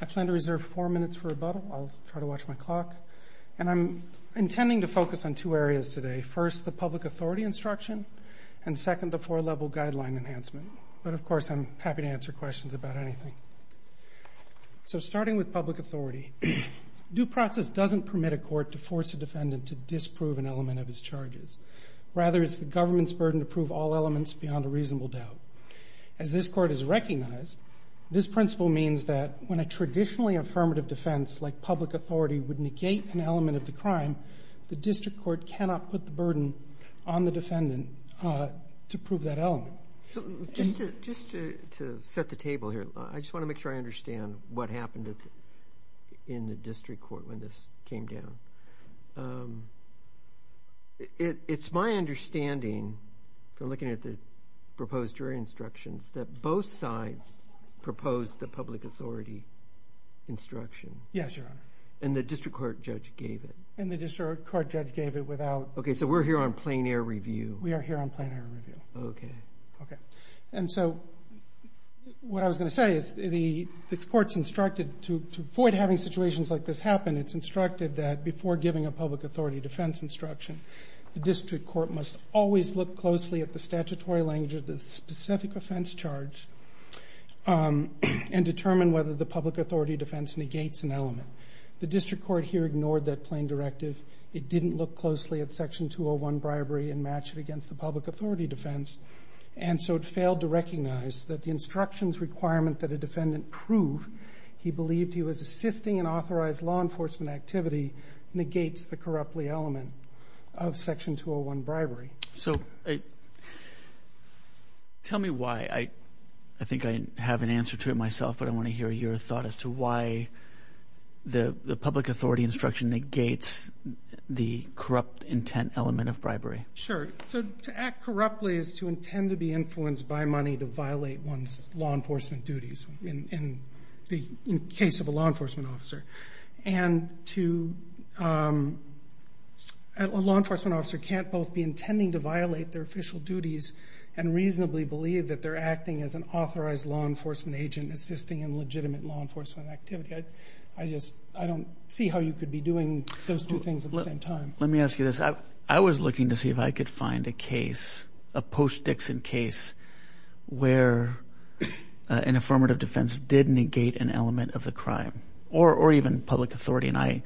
I plan to reserve four minutes for rebuttal. I'll try to watch my clock. And I'm intending to focus on two areas today. First, the public authority instruction, and second, the four-level guideline enhancement. But of course, I'm happy to answer questions about anything. So starting with public authority, due process doesn't permit a court to force a defendant to disprove an element of his charges. Rather, it's the government's burden to prove all elements beyond a reasonable doubt. As this Court has recognized, this principle means that when a traditionally affirmative defense like public authority would negate an element of the crime, the district court cannot put the burden on the defendant to prove that element. So just to set the table here, I just want to make sure I understand what happened in the district court when this came down. It's my understanding, from looking at the proposed jury instructions, that both sides proposed the public authority instruction. Yes, Your Honor. And the district court judge gave it. And the district court judge gave it without... Okay, so we're here on plain air review. We are here on plain air review. Okay. Okay. And so what I was going to say is this Court's instructed to avoid having situations like this happen, it's instructed that before giving a public authority defense instruction, the district court must always look closely at the statutory language of the specific offense charge and determine whether the public authority defense negates an element. The district court here ignored that plain directive. It didn't look closely at Section 201 bribery and match it against the public authority defense. And so it failed to recognize that the instructions requirement that a defendant prove he believed he was assisting an authorized law enforcement activity negates the corruptly element of Section 201 bribery. So tell me why. I think I have an answer to it myself, but I want to hear your thought as to why the public authority instruction negates the corrupt intent element of bribery. Sure. So to act corruptly is to intend to be influenced by money to violate one's law enforcement duties in the case of a law enforcement officer. And a law enforcement officer can't both be intending to violate their official duties and reasonably believe that they're acting as an authorized law enforcement agent assisting in legitimate law enforcement activity. I just I don't see how you could be doing those two things at the same time. Let me ask you this. I was looking to see if I could find a case, a post Dixon case where an affirmative defense did negate an element of the crime or even public authority. And I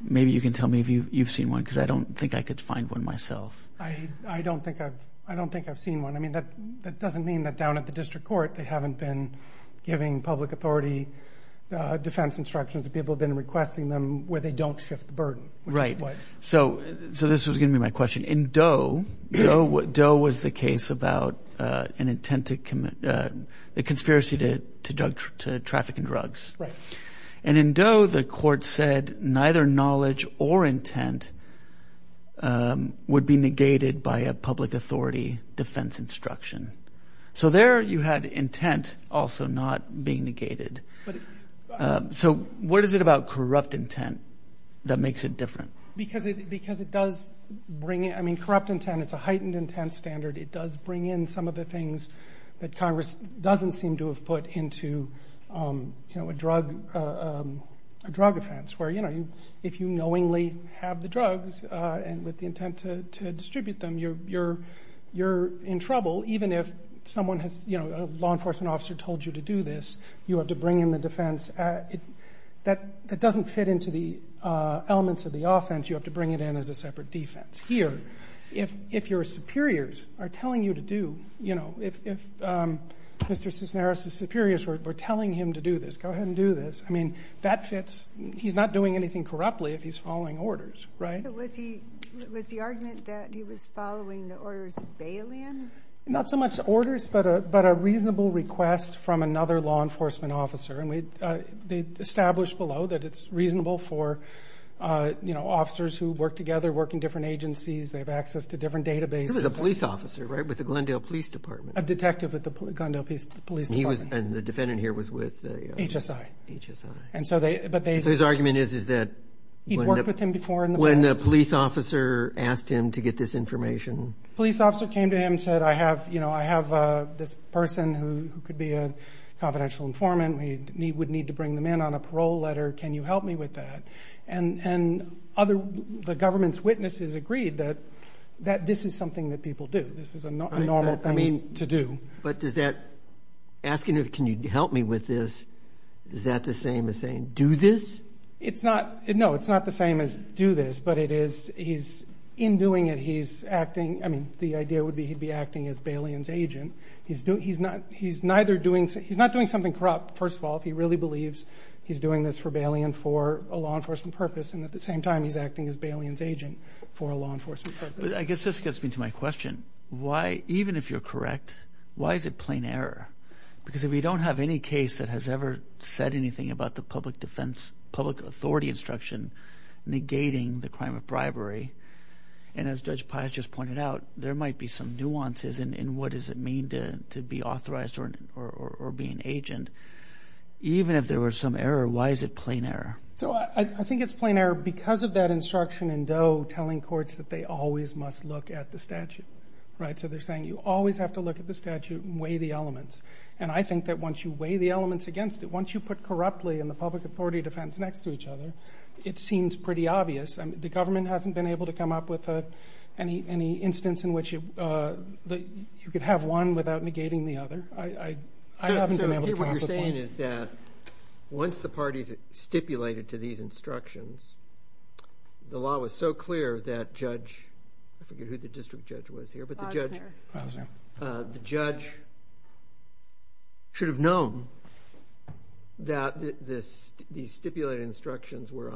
maybe you can tell me if you've seen one because I don't think I could find one myself. I don't think I've I don't think I've seen one. I mean, that that doesn't mean that down at the district court, they haven't been giving public authority defense instructions. People have been requesting them where they don't shift the burden. Right. So so this was going to be my question in Doe. Doe was the case about an intent to commit a conspiracy to to drug to traffic and drugs. Right. And in Doe, the court said neither knowledge or intent would be negated by a public authority defense instruction. So there you had intent also not being negated. So what is it about corrupt intent that makes it different? Because it because it does bring it. I mean, corrupt intent, it's a heightened intent standard. It does bring in some of the things that Congress doesn't seem to have put into a drug, a drug offense where, you know, if you knowingly have the drugs and with the intent to distribute them, you're you're you're in trouble. Even if someone has, you know, a law enforcement officer told you to do this, you have to bring in the defense that that doesn't fit into the elements of the offense. You have to bring it in as a separate defense here. If if your superiors are telling you to do, you know, if if Mr. Cisneros, the superiors were telling him to do this, go ahead and do this. I mean, that fits. He's not doing anything corruptly if he's following orders. Right. Was he was the argument that he was following the orders of bail in? Not so much orders, but a but a reasonable request from another law enforcement officer. And they established below that it's reasonable for, you know, officers who work together, work in different agencies. They have access to different databases, a police officer, right, with the Glendale Police Department, a detective at the police police. He was and the defendant here was with the H.S.I. H.S.I. And so they but his argument is, is that he worked with him before when the police officer asked him to get this information. Police officer came to him and said, I have you know, I have this person who could be a confidential informant. We need would need to bring them in on a parole letter. Can you help me with that? And and other the government's witnesses agreed that that this is something that people do. This is a normal thing to do. But does that asking if can you help me with this? Is that the same as saying do this? It's not. No, it's not the same as do this. But it is. He's in doing it. He's acting. I mean, the idea would be he'd be acting as Bailey's agent. He's doing he's not. He's neither doing. He's not doing something corrupt. First of all, if he really believes he's doing this rebellion for a law enforcement purpose and at the same time, he's acting as Bailey's agent for a law enforcement. I guess this gets me to my question. Why? Even if you're correct, why is it plain error? Because if we don't have any case that has ever said anything about the public defense, public authority instruction negating the crime of bribery. And as Judge Pius just pointed out, there might be some nuances. And what does it mean to to be authorized or or be an agent? Even if there were some error, why is it plain error? So I think it's plain error because of that instruction in Doe telling courts that they always must look at the statute. Right. So they're saying you always have to look at the statute and weigh the elements. And I think that once you weigh the elements against it, once you put corruptly in the public authority defense next to each other, it seems pretty obvious. The government hasn't been able to come up with any any instance in which you could have one without negating the other. I haven't been able to. What you're saying is that once the parties stipulated to these instructions, the law was so clear that judge, I forget who the district judge was here, but the judge, the judge should have known that this stipulated instructions were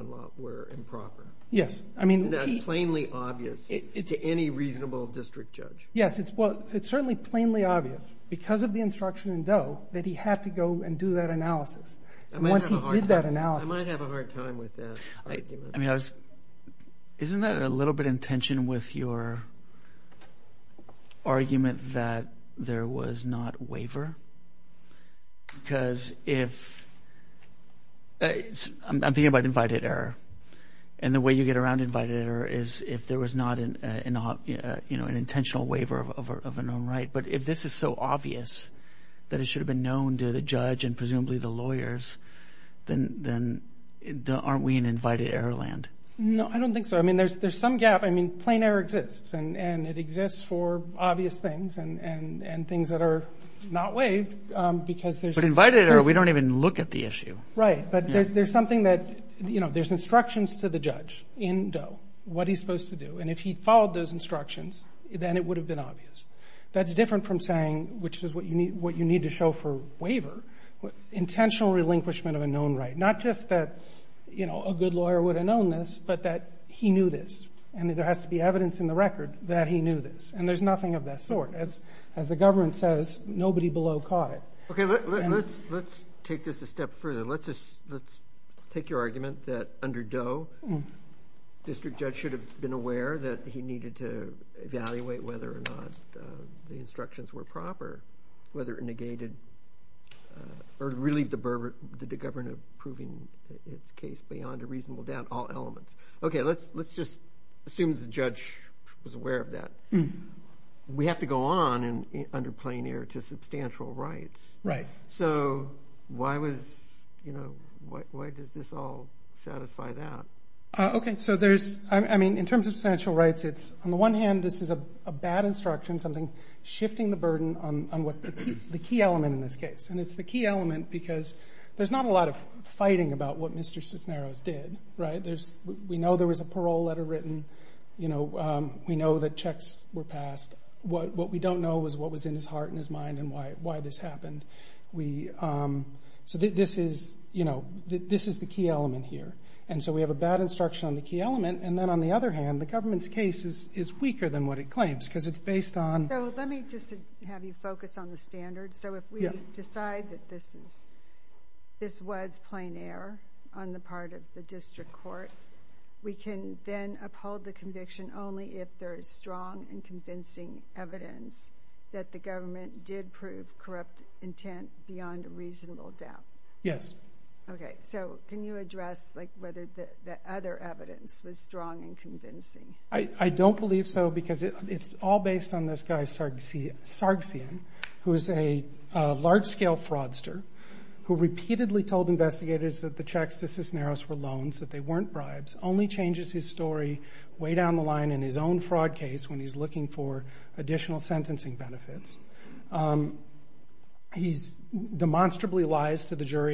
improper. Yes. I mean, that's plainly obvious to any reasonable district judge. Yes, it's well, it's certainly plainly obvious because of the instruction in Doe that he had to go and do that analysis. And once he did that analysis, I might have a hard time with that. I mean, I was isn't that a little bit intention with your argument that there was not waiver? Because if I'm thinking about invited error and the way you get around invited error is if there was not an, you know, an intentional waiver of a known right. But if this is so obvious that it should have been known to the judge and presumably the lawyers, then aren't we in invited error land? No, I don't think so. I mean, there's some gap. I mean, plain error exists and it exists for obvious things and things that are not waived because there's invited error. We don't even look at the issue. Right. But there's something that, you know, there's instructions to the judge in Doe what he's supposed to do. And if he followed those instructions, then it would have been obvious. That's different from saying, which is what you need, what you need to show for waiver. Intentional relinquishment of a known right. Not just that, you know, a good lawyer would have known this, but that he knew this. And there has to be evidence in the record that he knew this. And there's nothing of that sort. As the government says, nobody below caught it. Okay, let's take this a step further. Let's just, let's take your argument that under Doe, district judge should have been aware that he needed to evaluate whether or not the instructions were proper, whether it negated or relieved the government of proving its case beyond a reasonable doubt, all elements. Okay, let's just assume the judge was aware of that. We have to go on under plain error to substantial rights. Right. So why was, you know, why does this all satisfy that? Okay, so there's, I mean, in terms of substantial rights, it's, on the one hand, this is a bad instruction, something shifting the burden on what the key element in this case. And it's the key element because there's not a lot of fighting about what Mr. Cisneros did, right? There's, we know there was a parole letter written, you know, we know that checks were passed. What we don't know is what was in his heart and his mind and why this happened. We, so this is, you know, this is the key element here. And so we have a bad instruction on the key element. And then on the other hand, the government's case is weaker than what it claims because it's based on... So let me just have you focus on the standards. So if we decide that this is, this was plain error on the part of the district court, we can then uphold the conviction only if there is strong and convincing evidence that the government did prove corrupt intent beyond a reasonable doubt. Yes. Okay. So can you address like whether the other evidence was strong and convincing? I don't believe so because it's all based on this guy Sargsyan, who is a large-scale fraudster who repeatedly told investigators that the checks to Cisneros were loans, that they weren't bribes, only changes his story way down the line in his own fraud case when he's looking for additional in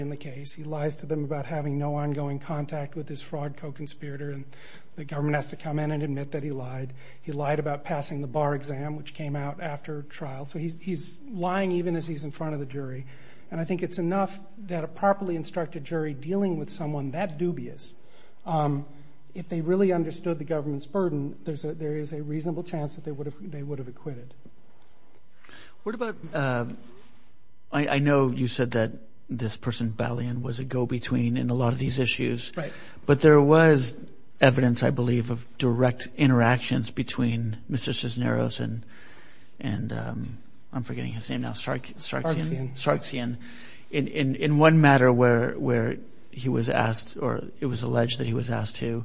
the case. He lies to them about having no ongoing contact with this fraud co-conspirator and the government has to come in and admit that he lied. He lied about passing the bar exam, which came out after trial. So he's lying even as he's in front of the jury. And I think it's enough that a properly instructed jury dealing with someone that dubious, if they really understood the government's burden, there's a, there is a reasonable chance that they would have, they I know you said that this person, Balian, was a go-between in a lot of these issues, but there was evidence, I believe, of direct interactions between Mr. Cisneros and, and I'm forgetting his name now, Sargsyan, in one matter where he was asked or it was alleged that he was asked to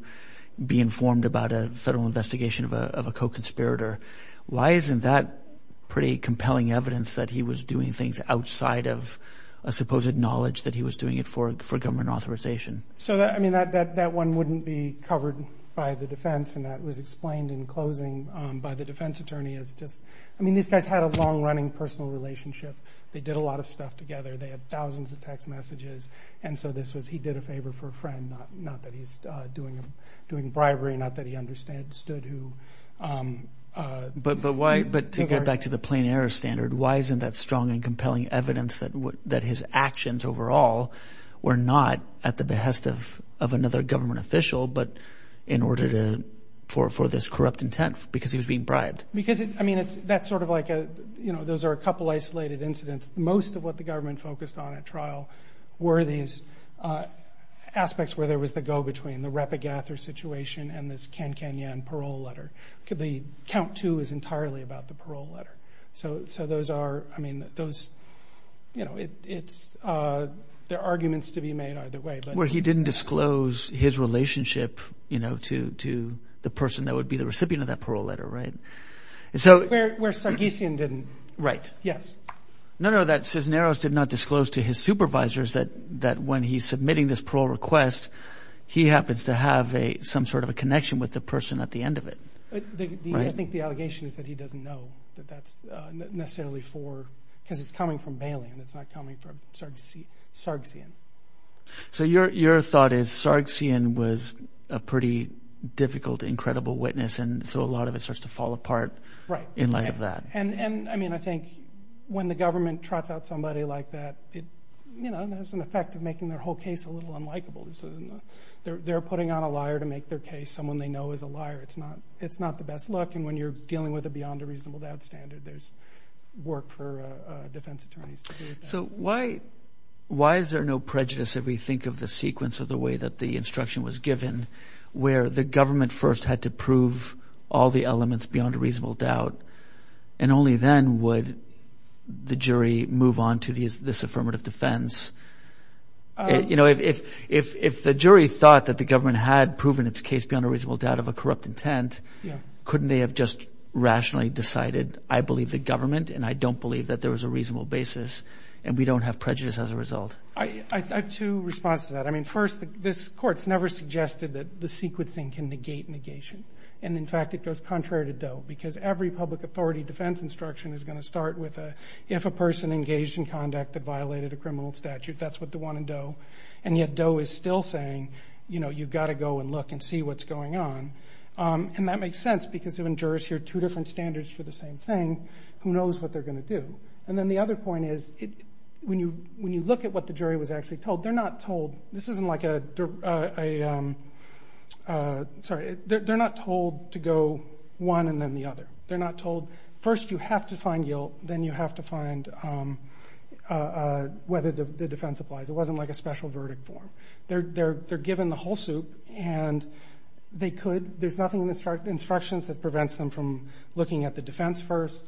be informed about a federal investigation of a co-conspirator. Why isn't that pretty compelling evidence that he was doing things outside of a supposed knowledge that he was doing it for, for government authorization? So that, I mean, that, that, that one wouldn't be covered by the defense and that was explained in closing by the defense attorney as just, I mean, these guys had a long-running personal relationship. They did a lot of stuff together. They had thousands of text messages. And so this was, he did a favor for a friend, not, not that he's doing, doing bribery, not that he understood, who... But, but why, but to get back to the plain error standard, why isn't that strong and compelling evidence that, that his actions overall were not at the behest of, of another government official, but in order to, for, for this corrupt intent because he was being bribed? Because it, I mean, it's, that's sort of like a, you know, those are a couple isolated incidents. Most of what the government focused on at trial were these aspects where there was the go-between, the Repagatha situation and this Can Can Yan parole letter. The count two is entirely about the parole letter. So, so those are, I mean, those, you know, it, it's, there are arguments to be made either way. Where he didn't disclose his relationship, you know, to, to the person that would be the recipient of that parole letter, right? And so... Where, where Sargisian didn't. Right. Yes. No, no, that Cisneros did not disclose to his supervisors that, that when he's submitting this parole request, he happens to have a, some sort of a connection with the person at the end of it. The, the, I think the allegation is that he doesn't know that that's necessarily for, because it's coming from Bailey and it's not coming from Sargisian. So your, your thought is Sargisian was a pretty difficult, incredible witness and so a lot of it starts to fall apart. Right. In light of that. And, and, I mean, I think when the government trots out somebody like that, it, you know, has an effect of making their whole case a little unlikable. So they're, they're putting on a liar to make their case. Someone they know is a liar. It's not, it's not the best look. And when you're dealing with a beyond a reasonable doubt standard, there's work for defense attorneys to do with that. So why, why is there no prejudice if we think of the sequence of the way that the instruction was given, where the government first had to prove all the elements beyond a reasonable doubt, and only then would the jury move on to this, this affirmative defense? You know, if, if, if the jury thought that the government had proven its case beyond a reasonable doubt of a corrupt intent, couldn't they have just rationally decided, I believe the government and I don't believe that there was a reasonable basis and we don't have prejudice as a result. I, I, I have two responses to that. I mean, first, this court's never suggested that the sequencing can negate negation. And in fact, it goes contrary to Doe because every public authority defense instruction is going to start with a, if a person engaged in conduct that violated a criminal statute, that's what the one in Doe. And yet Doe is still saying, you know, you've got to go and look and see what's going on. And that makes sense because when jurors hear two different standards for the same thing, who knows what they're going to do. And then the other point is, when you, when you look at what the jury was actually told, they're not told, this isn't like a, a, a, sorry, they're, they're not told to go one and then the other. They're not told, first you have to find guilt, then you have to find whether the defense applies. It wasn't like a special verdict form. They're, they're, they're given the whole soup and they could, there's nothing in the instructions that prevents them from looking at the defense first,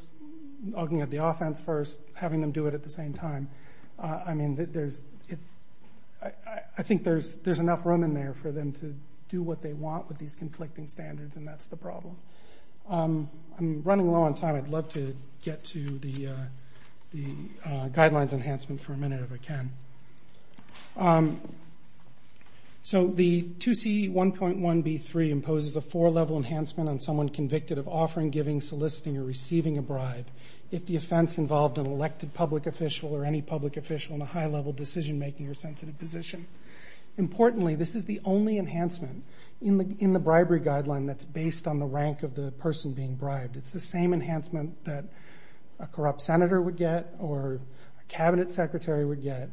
looking at the offense first, having them do it at the same time. I mean, there's, it, I, I think there's, there's enough room in there for them to do what they want with these conflicting standards and that's the problem. I'm running low on time. I'd love to get to the, the guidelines enhancement for a minute if I can. So the 2C1.1B3 imposes a four level enhancement on someone convicted of offering, giving, soliciting, or receiving a bribe if the offense involved an elected public official or any public official in a high level decision making or sensitive position. Importantly, this is the only enhancement in the, in the bribery guideline that's based on the rank of the person being bribed. It's the same enhancement that a corrupt senator would get or a cabinet secretary would get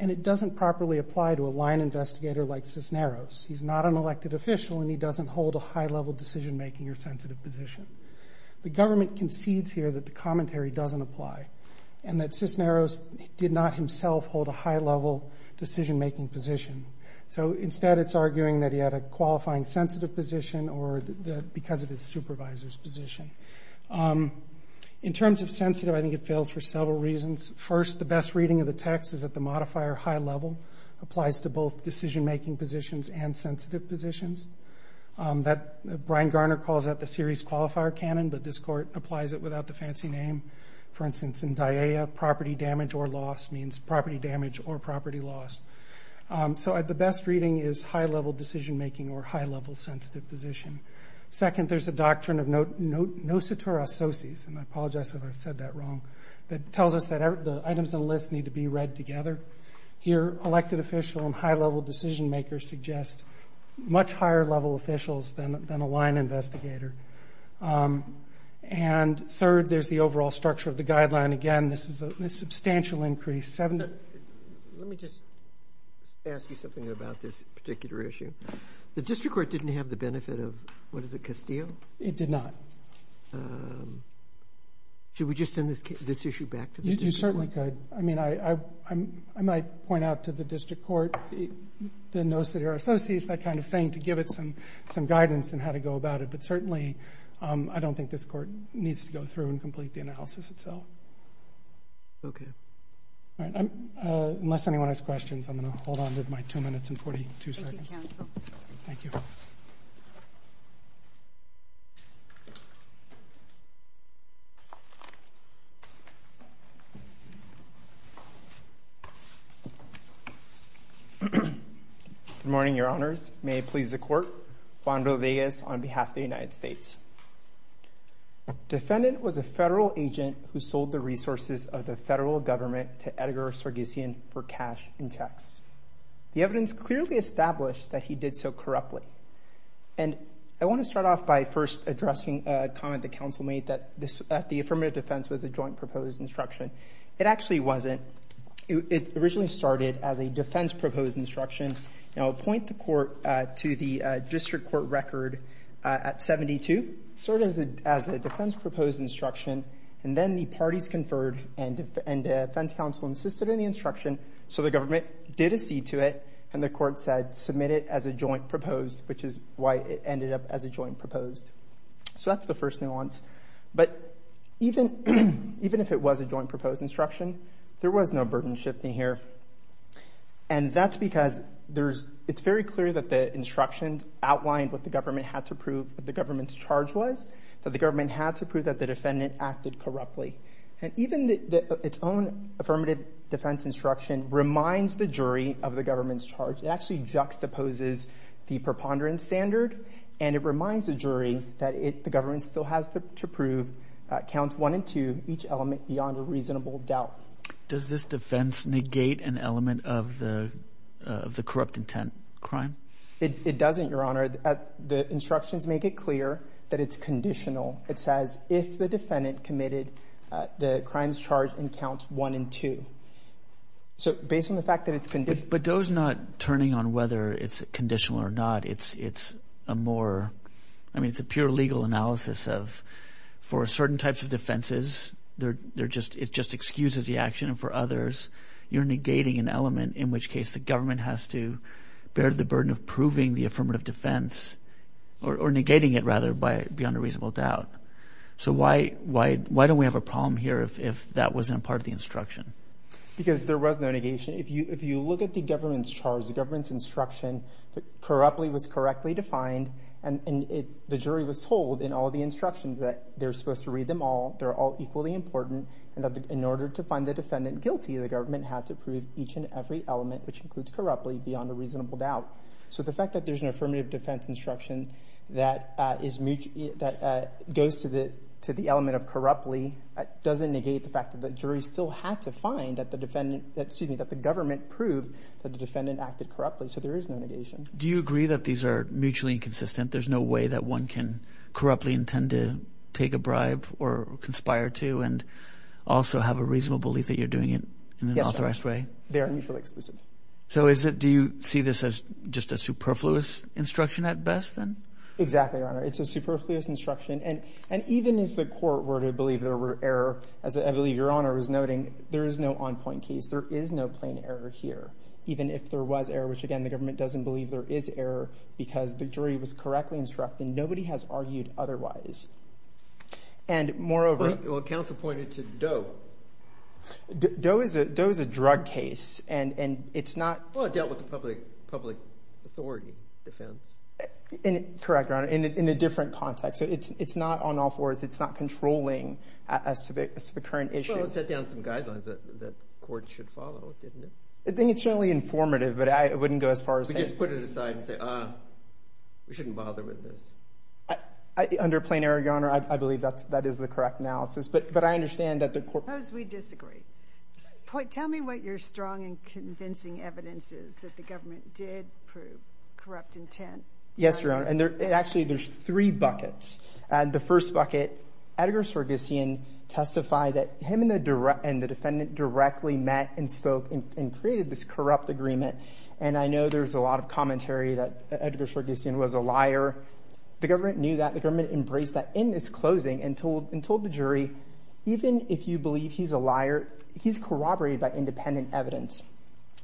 and it doesn't properly apply to a line investigator like Cisneros. He's not an elected official and he doesn't hold a high level decision making or sensitive position. The government concedes here that the commentary doesn't apply and that Cisneros did not himself hold a high level decision making position. So instead it's arguing that he had a qualifying sensitive position or because of his supervisor's In terms of sensitive, I think it fails for several reasons. First, the best reading of the text is that the modifier high level applies to both decision making positions and sensitive positions. That Brian Garner calls out the series qualifier canon, but this court applies it without the fancy name. For instance, in DAEA, property damage or loss means property damage or property loss. So the best reading is high level decision making or high level sensitive position. Second, there's a doctrine of no situra sociis, and I apologize if I've said that wrong, that tells us that the items on the list need to be read together. Here, elected official and high level decision makers suggest much higher level officials than a line investigator. And third, there's the overall structure of the guideline. Again, this is a substantial increase. Let me just ask you something about this particular issue. The district court didn't have the benefit of, what is it, Castillo? It did not. Should we just send this issue back to the district court? You certainly could. I mean, I might point out to the district court the no situra sociis, that kind of thing, to give it some guidance on how to go about it, but certainly I don't think this court needs to go through and complete the analysis itself. Okay. All right. Unless anyone has questions, I'm going to hold on to my two minutes and 42 seconds. Thank you. Good morning, your honors. May it please the court. Juan Rodriguez on behalf of the United States. The defendant was a federal agent who sold the resources of the federal government to Edgar Sargassian for cash and tax. The evidence clearly established that he did so corruptly. And I want to start off by first addressing a comment the council made that the affirmative defense was a joint proposed instruction. It actually wasn't. It originally started as a defense proposed instruction. And I'll point the court to the district court record at 72, sort of as a defense proposed instruction. And then the parties conferred and defense counsel insisted in the instruction. So the government did accede to it and the court said, submit it as a joint proposed, which is why it ended up as a joint proposed. So that's the first nuance. But even if it was a joint proposed instruction, there was no burden shifting here. And that's because it's very clear that the instructions outlined what the government had to prove that the government's charge was, that the government had to prove that the defendant acted corruptly. And even its own affirmative defense instruction reminds the jury of the government's charge. It actually juxtaposes the preponderance standard and it reminds the jury that the government still has to prove counts one and two, each element beyond a reasonable doubt. Does this defense negate an element of the corrupt intent crime? It doesn't, Your Honor. The instructions make it clear that it's conditional. It says if the defendant committed the crimes charged in counts one and two. So based on the fact that it's conditional. But those not turning on whether it's conditional or not, it's a more, I mean, it's a pure legal analysis of, for certain types of defenses, they're just, it just excuses the action for others. You're negating an element in which case the government has to bear the burden of proving the affirmative defense or negating it rather by beyond a reasonable doubt. So why, why, why don't we have a problem here if that wasn't part of the instruction? Because there was no negation. If you, if you look at the government's charge, the government's instruction that corruptly was correctly defined and the jury was told in all the instructions that they're supposed to read them all. They're all equally important and that in order to find the defendant guilty, the government had to prove each and every element, which includes corruptly beyond a reasonable doubt. So the fact that there's an affirmative defense instruction that is, that goes to the, to the element of corruptly doesn't negate the fact that the jury still had to find that the defendant, excuse me, that the government proved that the defendant acted corruptly. So there is no negation. Do you agree that these are mutually inconsistent? There's no way that one can corruptly intend to take a bribe or conspire to, and also have a reasonable belief that you're doing it in an authorized way? They are mutually exclusive. So is it, do you see this as just a superfluous instruction at best then? Exactly, Your Honor. It's a superfluous instruction and, and even if the court were to believe there were error, as I believe Your Honor was noting, there is no on point case. There is no plain error here, even if there was error, which again, the government doesn't believe there is error because the jury was correctly instructed. Nobody has argued otherwise. And moreover. Well, counsel pointed to Doe. Doe is a, Doe is a drug case and, and it's not. Well, it dealt with the public, public authority defense. Correct, Your Honor. In a different context. So it's, it's not on all fours. It's not controlling as to the, as to the current issue. Well, it set down some guidelines that, that courts should follow, didn't it? I think it's generally informative, but I wouldn't go as far as saying. Just put it aside and say, ah, we shouldn't bother with this. Under plain error, Your Honor, I believe that's, that is the correct analysis, but, but I understand that the court. Suppose we disagree. Point, tell me what your strong and convincing evidence is that the government did prove corrupt intent. Yes, Your Honor. And there, it actually, there's three buckets. And the first bucket, Edgar Sargsyan testified that him and the, and the defendant directly met and spoke and, and created this corrupt agreement. And I know there's a lot of commentary that Edgar Sargsyan was a liar. The government knew that. The government embraced that in its closing and told, and told the jury, even if you believe he's a liar, he's corroborated by independent evidence.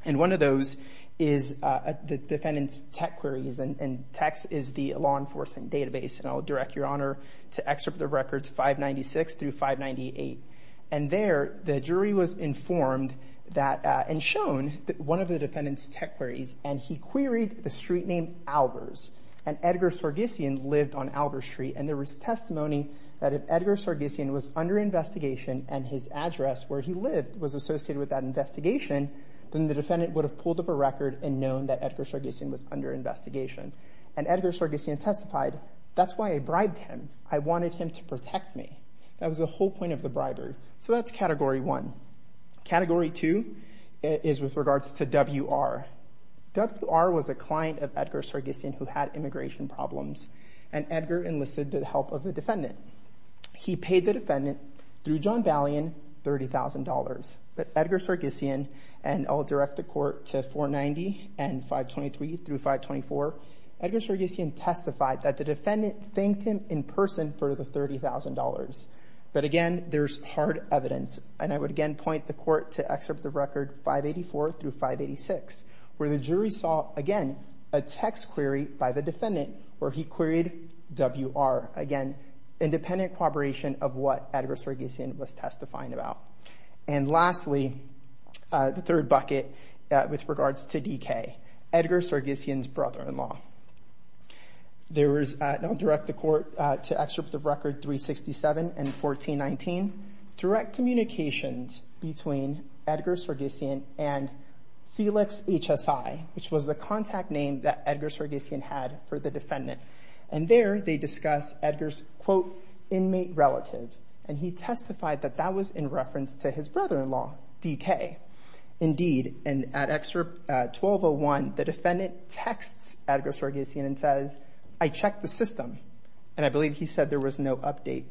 And one of those is the defendant's tech queries. And techs is the law enforcement database, and I'll direct Your Honor to excerpt the records 596 through 598. And there, the jury was informed that, and shown that one of the defendant's tech queries, and he queried the street name Albers, and Edgar Sargsyan lived on Albers Street. And there was testimony that if Edgar Sargsyan was under investigation and his address where he lived was associated with that investigation, then the defendant would have pulled up a record and known that Edgar Sargsyan was under investigation. And Edgar Sargsyan testified, that's why I bribed him. I wanted him to protect me. That was the whole point of the bribery. So that's category one. Category two is with regards to WR. WR was a client of Edgar Sargsyan who had immigration problems. And Edgar enlisted the help of the defendant. He paid the defendant, through John Ballion, $30,000. But Edgar Sargsyan, and I'll direct the court to 490 and 523 through 524, Edgar Sargsyan testified that the defendant thanked him in person for the $30,000. But again, there's hard evidence, and I would again point the court to excerpt the record 584 through 586, where the jury saw, again, a text query by the defendant where he queried WR. Again, independent corroboration of what Edgar Sargsyan was testifying about. And lastly, the third bucket with regards to DK, Edgar Sargsyan's brother-in-law. There was, and I'll direct the court to excerpt the record 367 and 1419, direct communications between Edgar Sargsyan and Felix HSI, which was the contact name that Edgar Sargsyan had for the defendant. And there, they discussed Edgar's, quote, inmate relative. And he testified that that was in reference to his brother-in-law, DK. Indeed, and at excerpt 1201, the defendant texts Edgar Sargsyan and says, I checked the system, and I believe he said there was no update.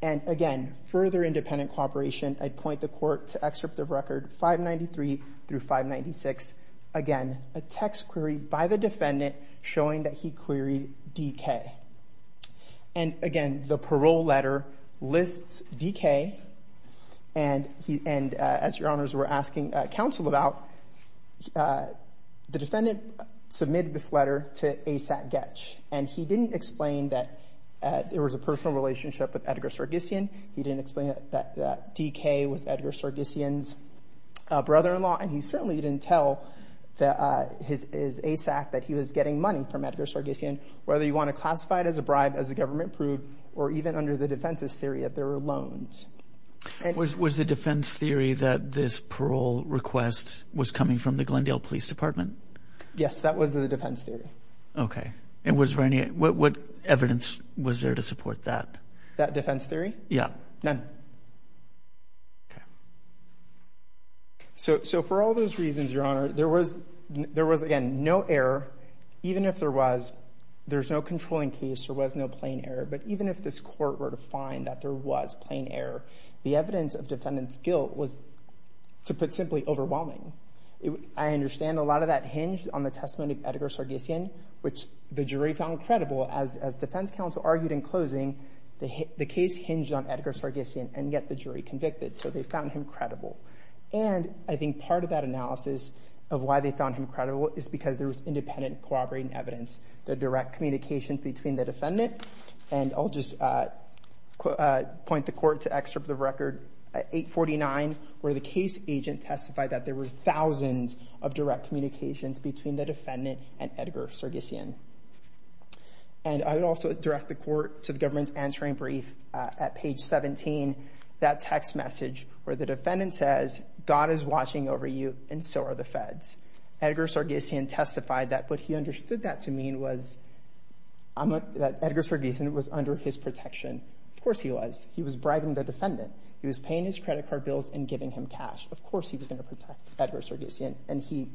And again, further independent corroboration, I'd point the court to excerpt the record 593 through 596. Again, a text query by the defendant showing that he queried DK. And again, the parole letter lists DK, and as your honors were asking counsel about, the defendant submitted this letter to ASAC-GETCH, and he didn't explain that there was a personal relationship with Edgar Sargsyan, he didn't explain that DK was Edgar Sargsyan's brother-in-law, and he certainly didn't tell his ASAC that he was getting money from Edgar Sargsyan. Whether you want to classify it as a bribe, as the government proved, or even under the defense's theory that there were loans. Was the defense theory that this parole request was coming from the Glendale Police Department? Yes, that was the defense theory. Okay. And was there any, what evidence was there to support that? That defense theory? Yeah. None. Okay. So, for all those reasons, your honor, there was, again, no error. Even if there was, there's no controlling case, there was no plain error, but even if this court were to find that there was plain error, the evidence of defendant's guilt was, to put simply, overwhelming. I understand a lot of that hinged on the testimony of Edgar Sargsyan, which the jury found credible. As defense counsel argued in closing, the case hinged on Edgar Sargsyan, and yet the jury convicted, so they found him credible. And I think part of that analysis of why they found him credible is because there was independent corroborating evidence, the direct communications between the defendant, and I'll just point the court to excerpt of record 849, where the case agent testified that there were thousands of direct communications between the defendant and Edgar Sargsyan. And I would also direct the court to the government's answering brief at page 17, that text message where the defendant says, God is watching over you, and so are the feds. Edgar Sargsyan testified that what he understood that to mean was that Edgar Sargsyan was under his protection. Of course he was. He was bribing the defendant. He was paying his credit card bills and giving him cash. Of course he was going to protect Edgar Sargsyan, and he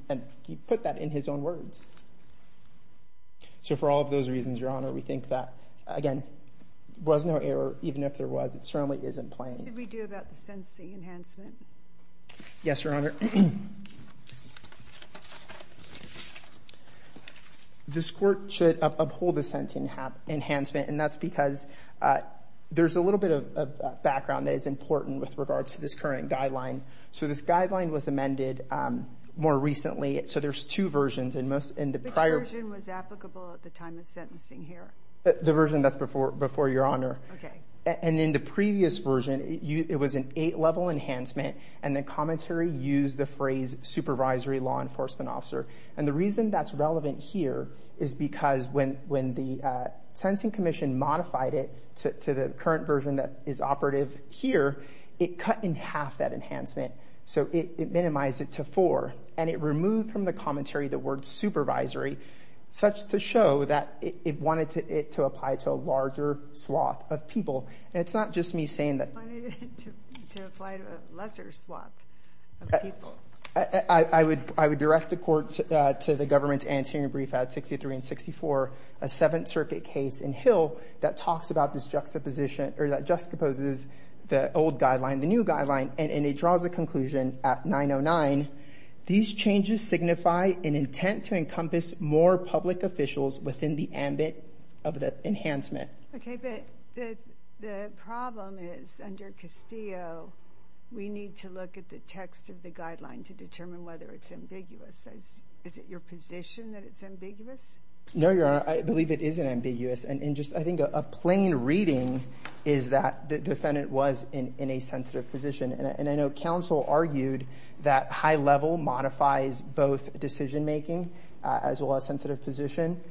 put that in his own words. So for all of those reasons, your honor, we think that, again, there was no error, even if there was. It certainly isn't plain. What did we do about the sentencing enhancement? Yes, your honor. This court should uphold the sentencing enhancement, and that's because there's a little bit of a background that is important with regards to this current guideline. So this guideline was amended more recently. So there's two versions. Which version was applicable at the time of sentencing here? The version that's before your honor. And in the previous version, it was an eight level enhancement, and the commentary used the phrase supervisory law enforcement officer. And the reason that's relevant here is because when the sentencing commission modified it to the current version that is operative here, it cut in half that enhancement. So it minimized it to four, and it removed from the commentary the word supervisory, such to show that it wanted it to apply to a larger swath of people. It's not just me saying that. It wanted it to apply to a lesser swath of people. I would direct the court to the government's anterior brief at 63 and 64, a Seventh Circuit case in Hill that talks about this juxtaposition, or that juxtaposes the old guideline and the new guideline, and it draws the conclusion at 909, these changes signify an intent to encompass more public officials within the ambit of the enhancement. Okay. But the problem is under Castillo, we need to look at the text of the guideline to determine whether it's ambiguous. Is it your position that it's ambiguous? No, your honor. I believe it isn't ambiguous. And just I think a plain reading is that the defendant was in a sensitive position. And I know counsel argued that high level modifies both decision making as well as sensitive position.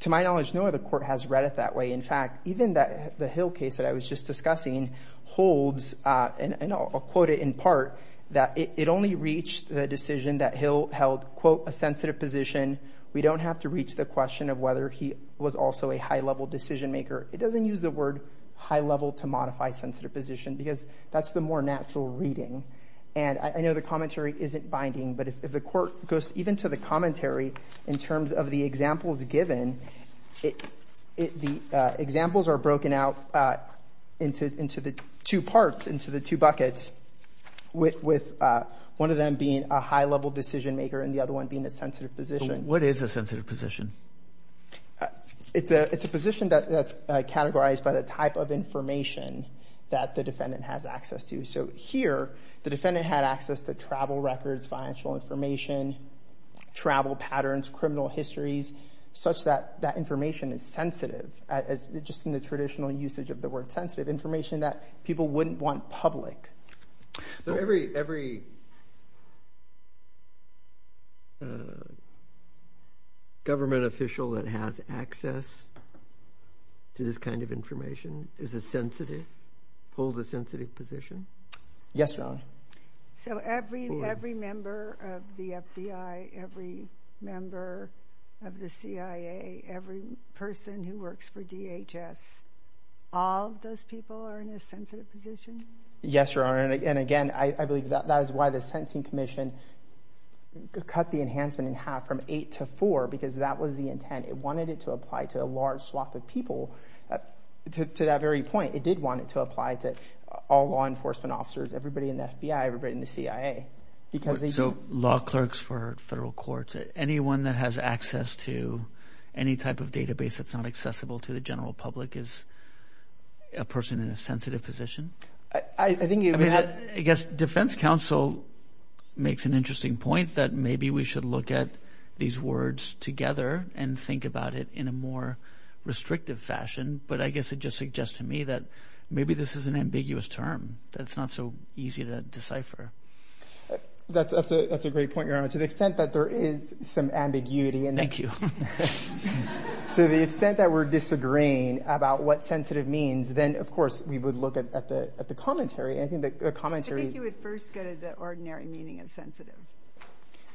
To my knowledge, no other court has read it that way. In fact, even the Hill case that I was just discussing holds, and I'll quote it in part, that it only reached the decision that Hill held, quote, a sensitive position. We don't have to reach the question of whether he was also a high level decision maker. It doesn't use the word high level to modify sensitive position because that's the more natural reading. And I know the commentary isn't binding, but if the court goes even to the commentary in terms of the examples given, the examples are broken out into the two parts, into the two buckets, with one of them being a high level decision maker and the other one being a sensitive position. What is a sensitive position? It's a position that's categorized by the type of information that the defendant has access to. So here, the defendant had access to travel records, financial information, travel patterns, criminal histories, such that that information is sensitive, just in the traditional usage of the word sensitive, information that people wouldn't want public. Every government official that has access to this kind of information is a sensitive, holds a sensitive position? Yes, Your Honor. So every member of the FBI, every member of the CIA, every person who works for DHS, all those people are in a sensitive position? Yes, Your Honor. And again, I believe that is why the sentencing commission cut the enhancement in half from eight to four, because that was the intent. It wanted it to apply to a large sloth of people. So to that very point, it did want it to apply to all law enforcement officers, everybody in the FBI, everybody in the CIA, because they... So law clerks for federal courts, anyone that has access to any type of database that's not accessible to the general public is a person in a sensitive position? I think... I mean, I guess defense counsel makes an interesting point that maybe we should look at these words together and think about it in a more restrictive fashion. But I guess it just suggests to me that maybe this is an ambiguous term that's not so easy to decipher. That's a great point, Your Honor. To the extent that there is some ambiguity in that... To the extent that we're disagreeing about what sensitive means, then of course we would look at the commentary. I think the commentary... I think you would first go to the ordinary meaning of sensitive.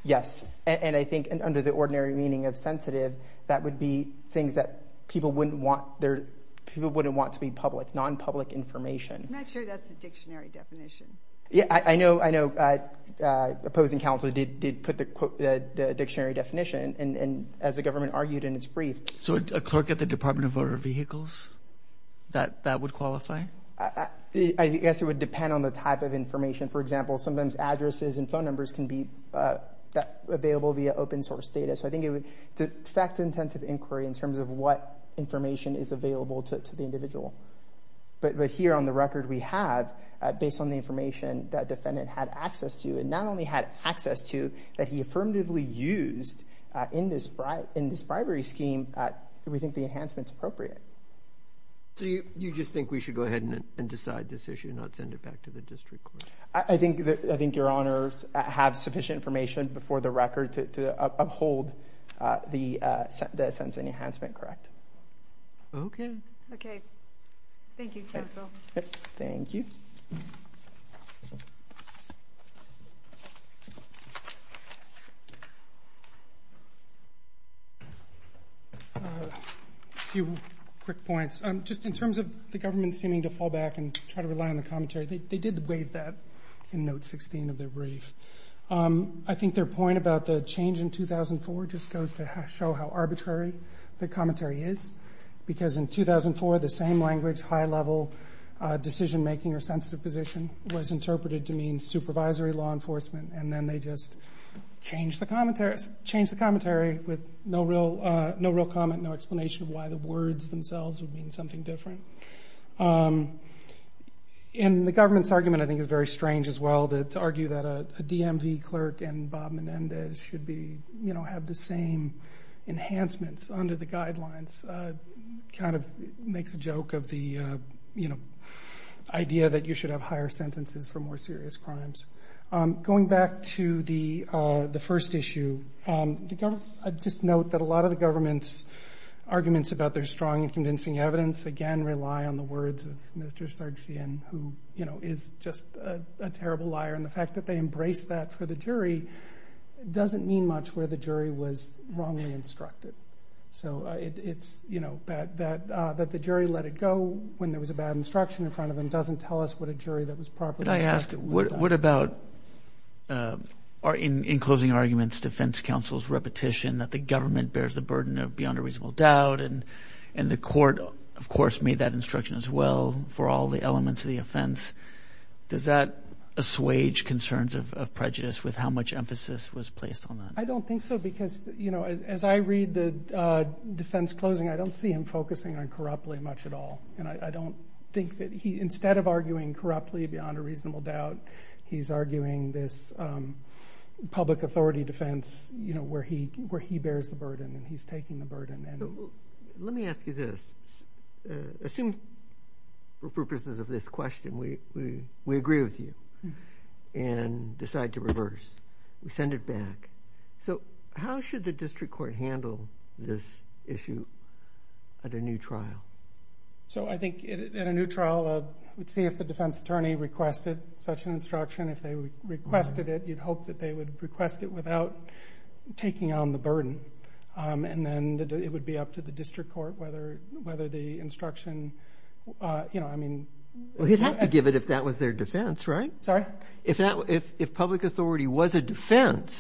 Yes. And I think under the ordinary meaning of sensitive, that would be things that people wouldn't want... People wouldn't want to be public, non-public information. I'm not sure that's a dictionary definition. Yeah, I know opposing counsel did put the dictionary definition, and as the government argued in its brief... So a clerk at the Department of Motor Vehicles, that would qualify? I guess it would depend on the type of information. For example, sometimes addresses and phone numbers can be available via open source data. So I think it would affect intensive inquiry in terms of what information is available to the individual. But here on the record, we have, based on the information that defendant had access to, and not only had access to, that he affirmatively used in this bribery scheme, we think the enhancement's appropriate. You just think we should go ahead and decide this issue and not send it back to the district I think your honors have sufficient information before the record to uphold the sentencing enhancement, correct? Okay. Okay. Thank you, counsel. Thank you. A few quick points. Just in terms of the government seeming to fall back and try to rely on the commentary, they did waive that in note 16 of their brief. I think their point about the change in 2004 just goes to show how arbitrary the commentary is, because in 2004, the same language, high level decision making or sensitive position was interpreted to mean supervisory law enforcement, and then they just changed the commentary with no real comment, no explanation why the words themselves would mean something different. And the government's argument I think is very strange as well to argue that a DMV clerk and Bob Menendez should have the same enhancements under the guidelines, kind of makes a joke of the idea that you should have higher sentences for more serious crimes. Going back to the first issue, I'd just note that a lot of the government's arguments about their strong and convincing evidence, again, rely on the words of Mr. Sargsyan, who is just a terrible liar, and the fact that they embrace that for the jury doesn't mean much where the jury was wrongly instructed. So that the jury let it go when there was a bad instruction in front of them doesn't tell us what a jury that was properly instructed would have done. What about, in closing arguments, defense counsel's repetition that the government bears the burden of beyond a reasonable doubt, and the court, of course, made that instruction as well for all the elements of the offense. Does that assuage concerns of prejudice with how much emphasis was placed on that? I don't think so because, you know, as I read the defense closing, I don't see him focusing on corruptly much at all, and I don't think that he, instead of arguing corruptly beyond a reasonable doubt, he's arguing this public authority defense, you know, where he bears the burden and he's taking the burden. Let me ask you this, assume for purposes of this question, we agree with you, and decide to reverse, send it back. So how should the district court handle this issue at a new trial? So I think at a new trial, we'd see if the defense attorney requested such an instruction. If they requested it, you'd hope that they would request it without taking on the burden, and then it would be up to the district court whether the instruction, you know, I mean Well, he'd have to give it if that was their defense, right? Sorry? If public authority was a defense,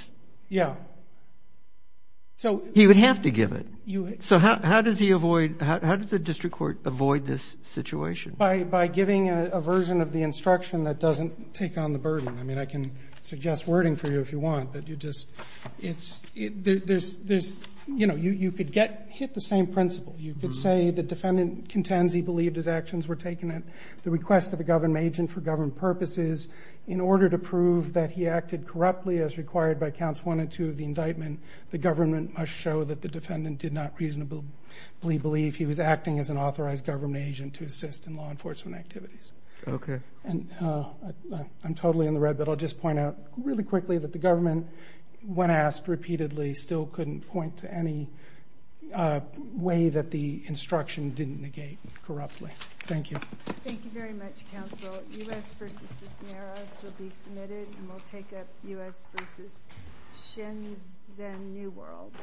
he would have to give it. So how does he avoid, how does the district court avoid this situation? By giving a version of the instruction that doesn't take on the burden. I mean, I can suggest wording for you if you want, but you just, it's, there's, you know, you could get, hit the same principle. You could say the defendant contends he believed his actions were taken at the request of a government agent for government purposes. In order to prove that he acted corruptly as required by counts one and two of the indictment, the government must show that the defendant did not reasonably believe he was acting as an authorized government agent to assist in law enforcement activities. Okay. And I'm totally in the red, but I'll just point out really quickly that the government, when asked repeatedly, still couldn't point to any way that the instruction didn't negate corruptly. Thank you. Thank you very much, counsel. U.S. v. Cisneros will be submitted, and we'll take up U.S. v. Shenzhen New World.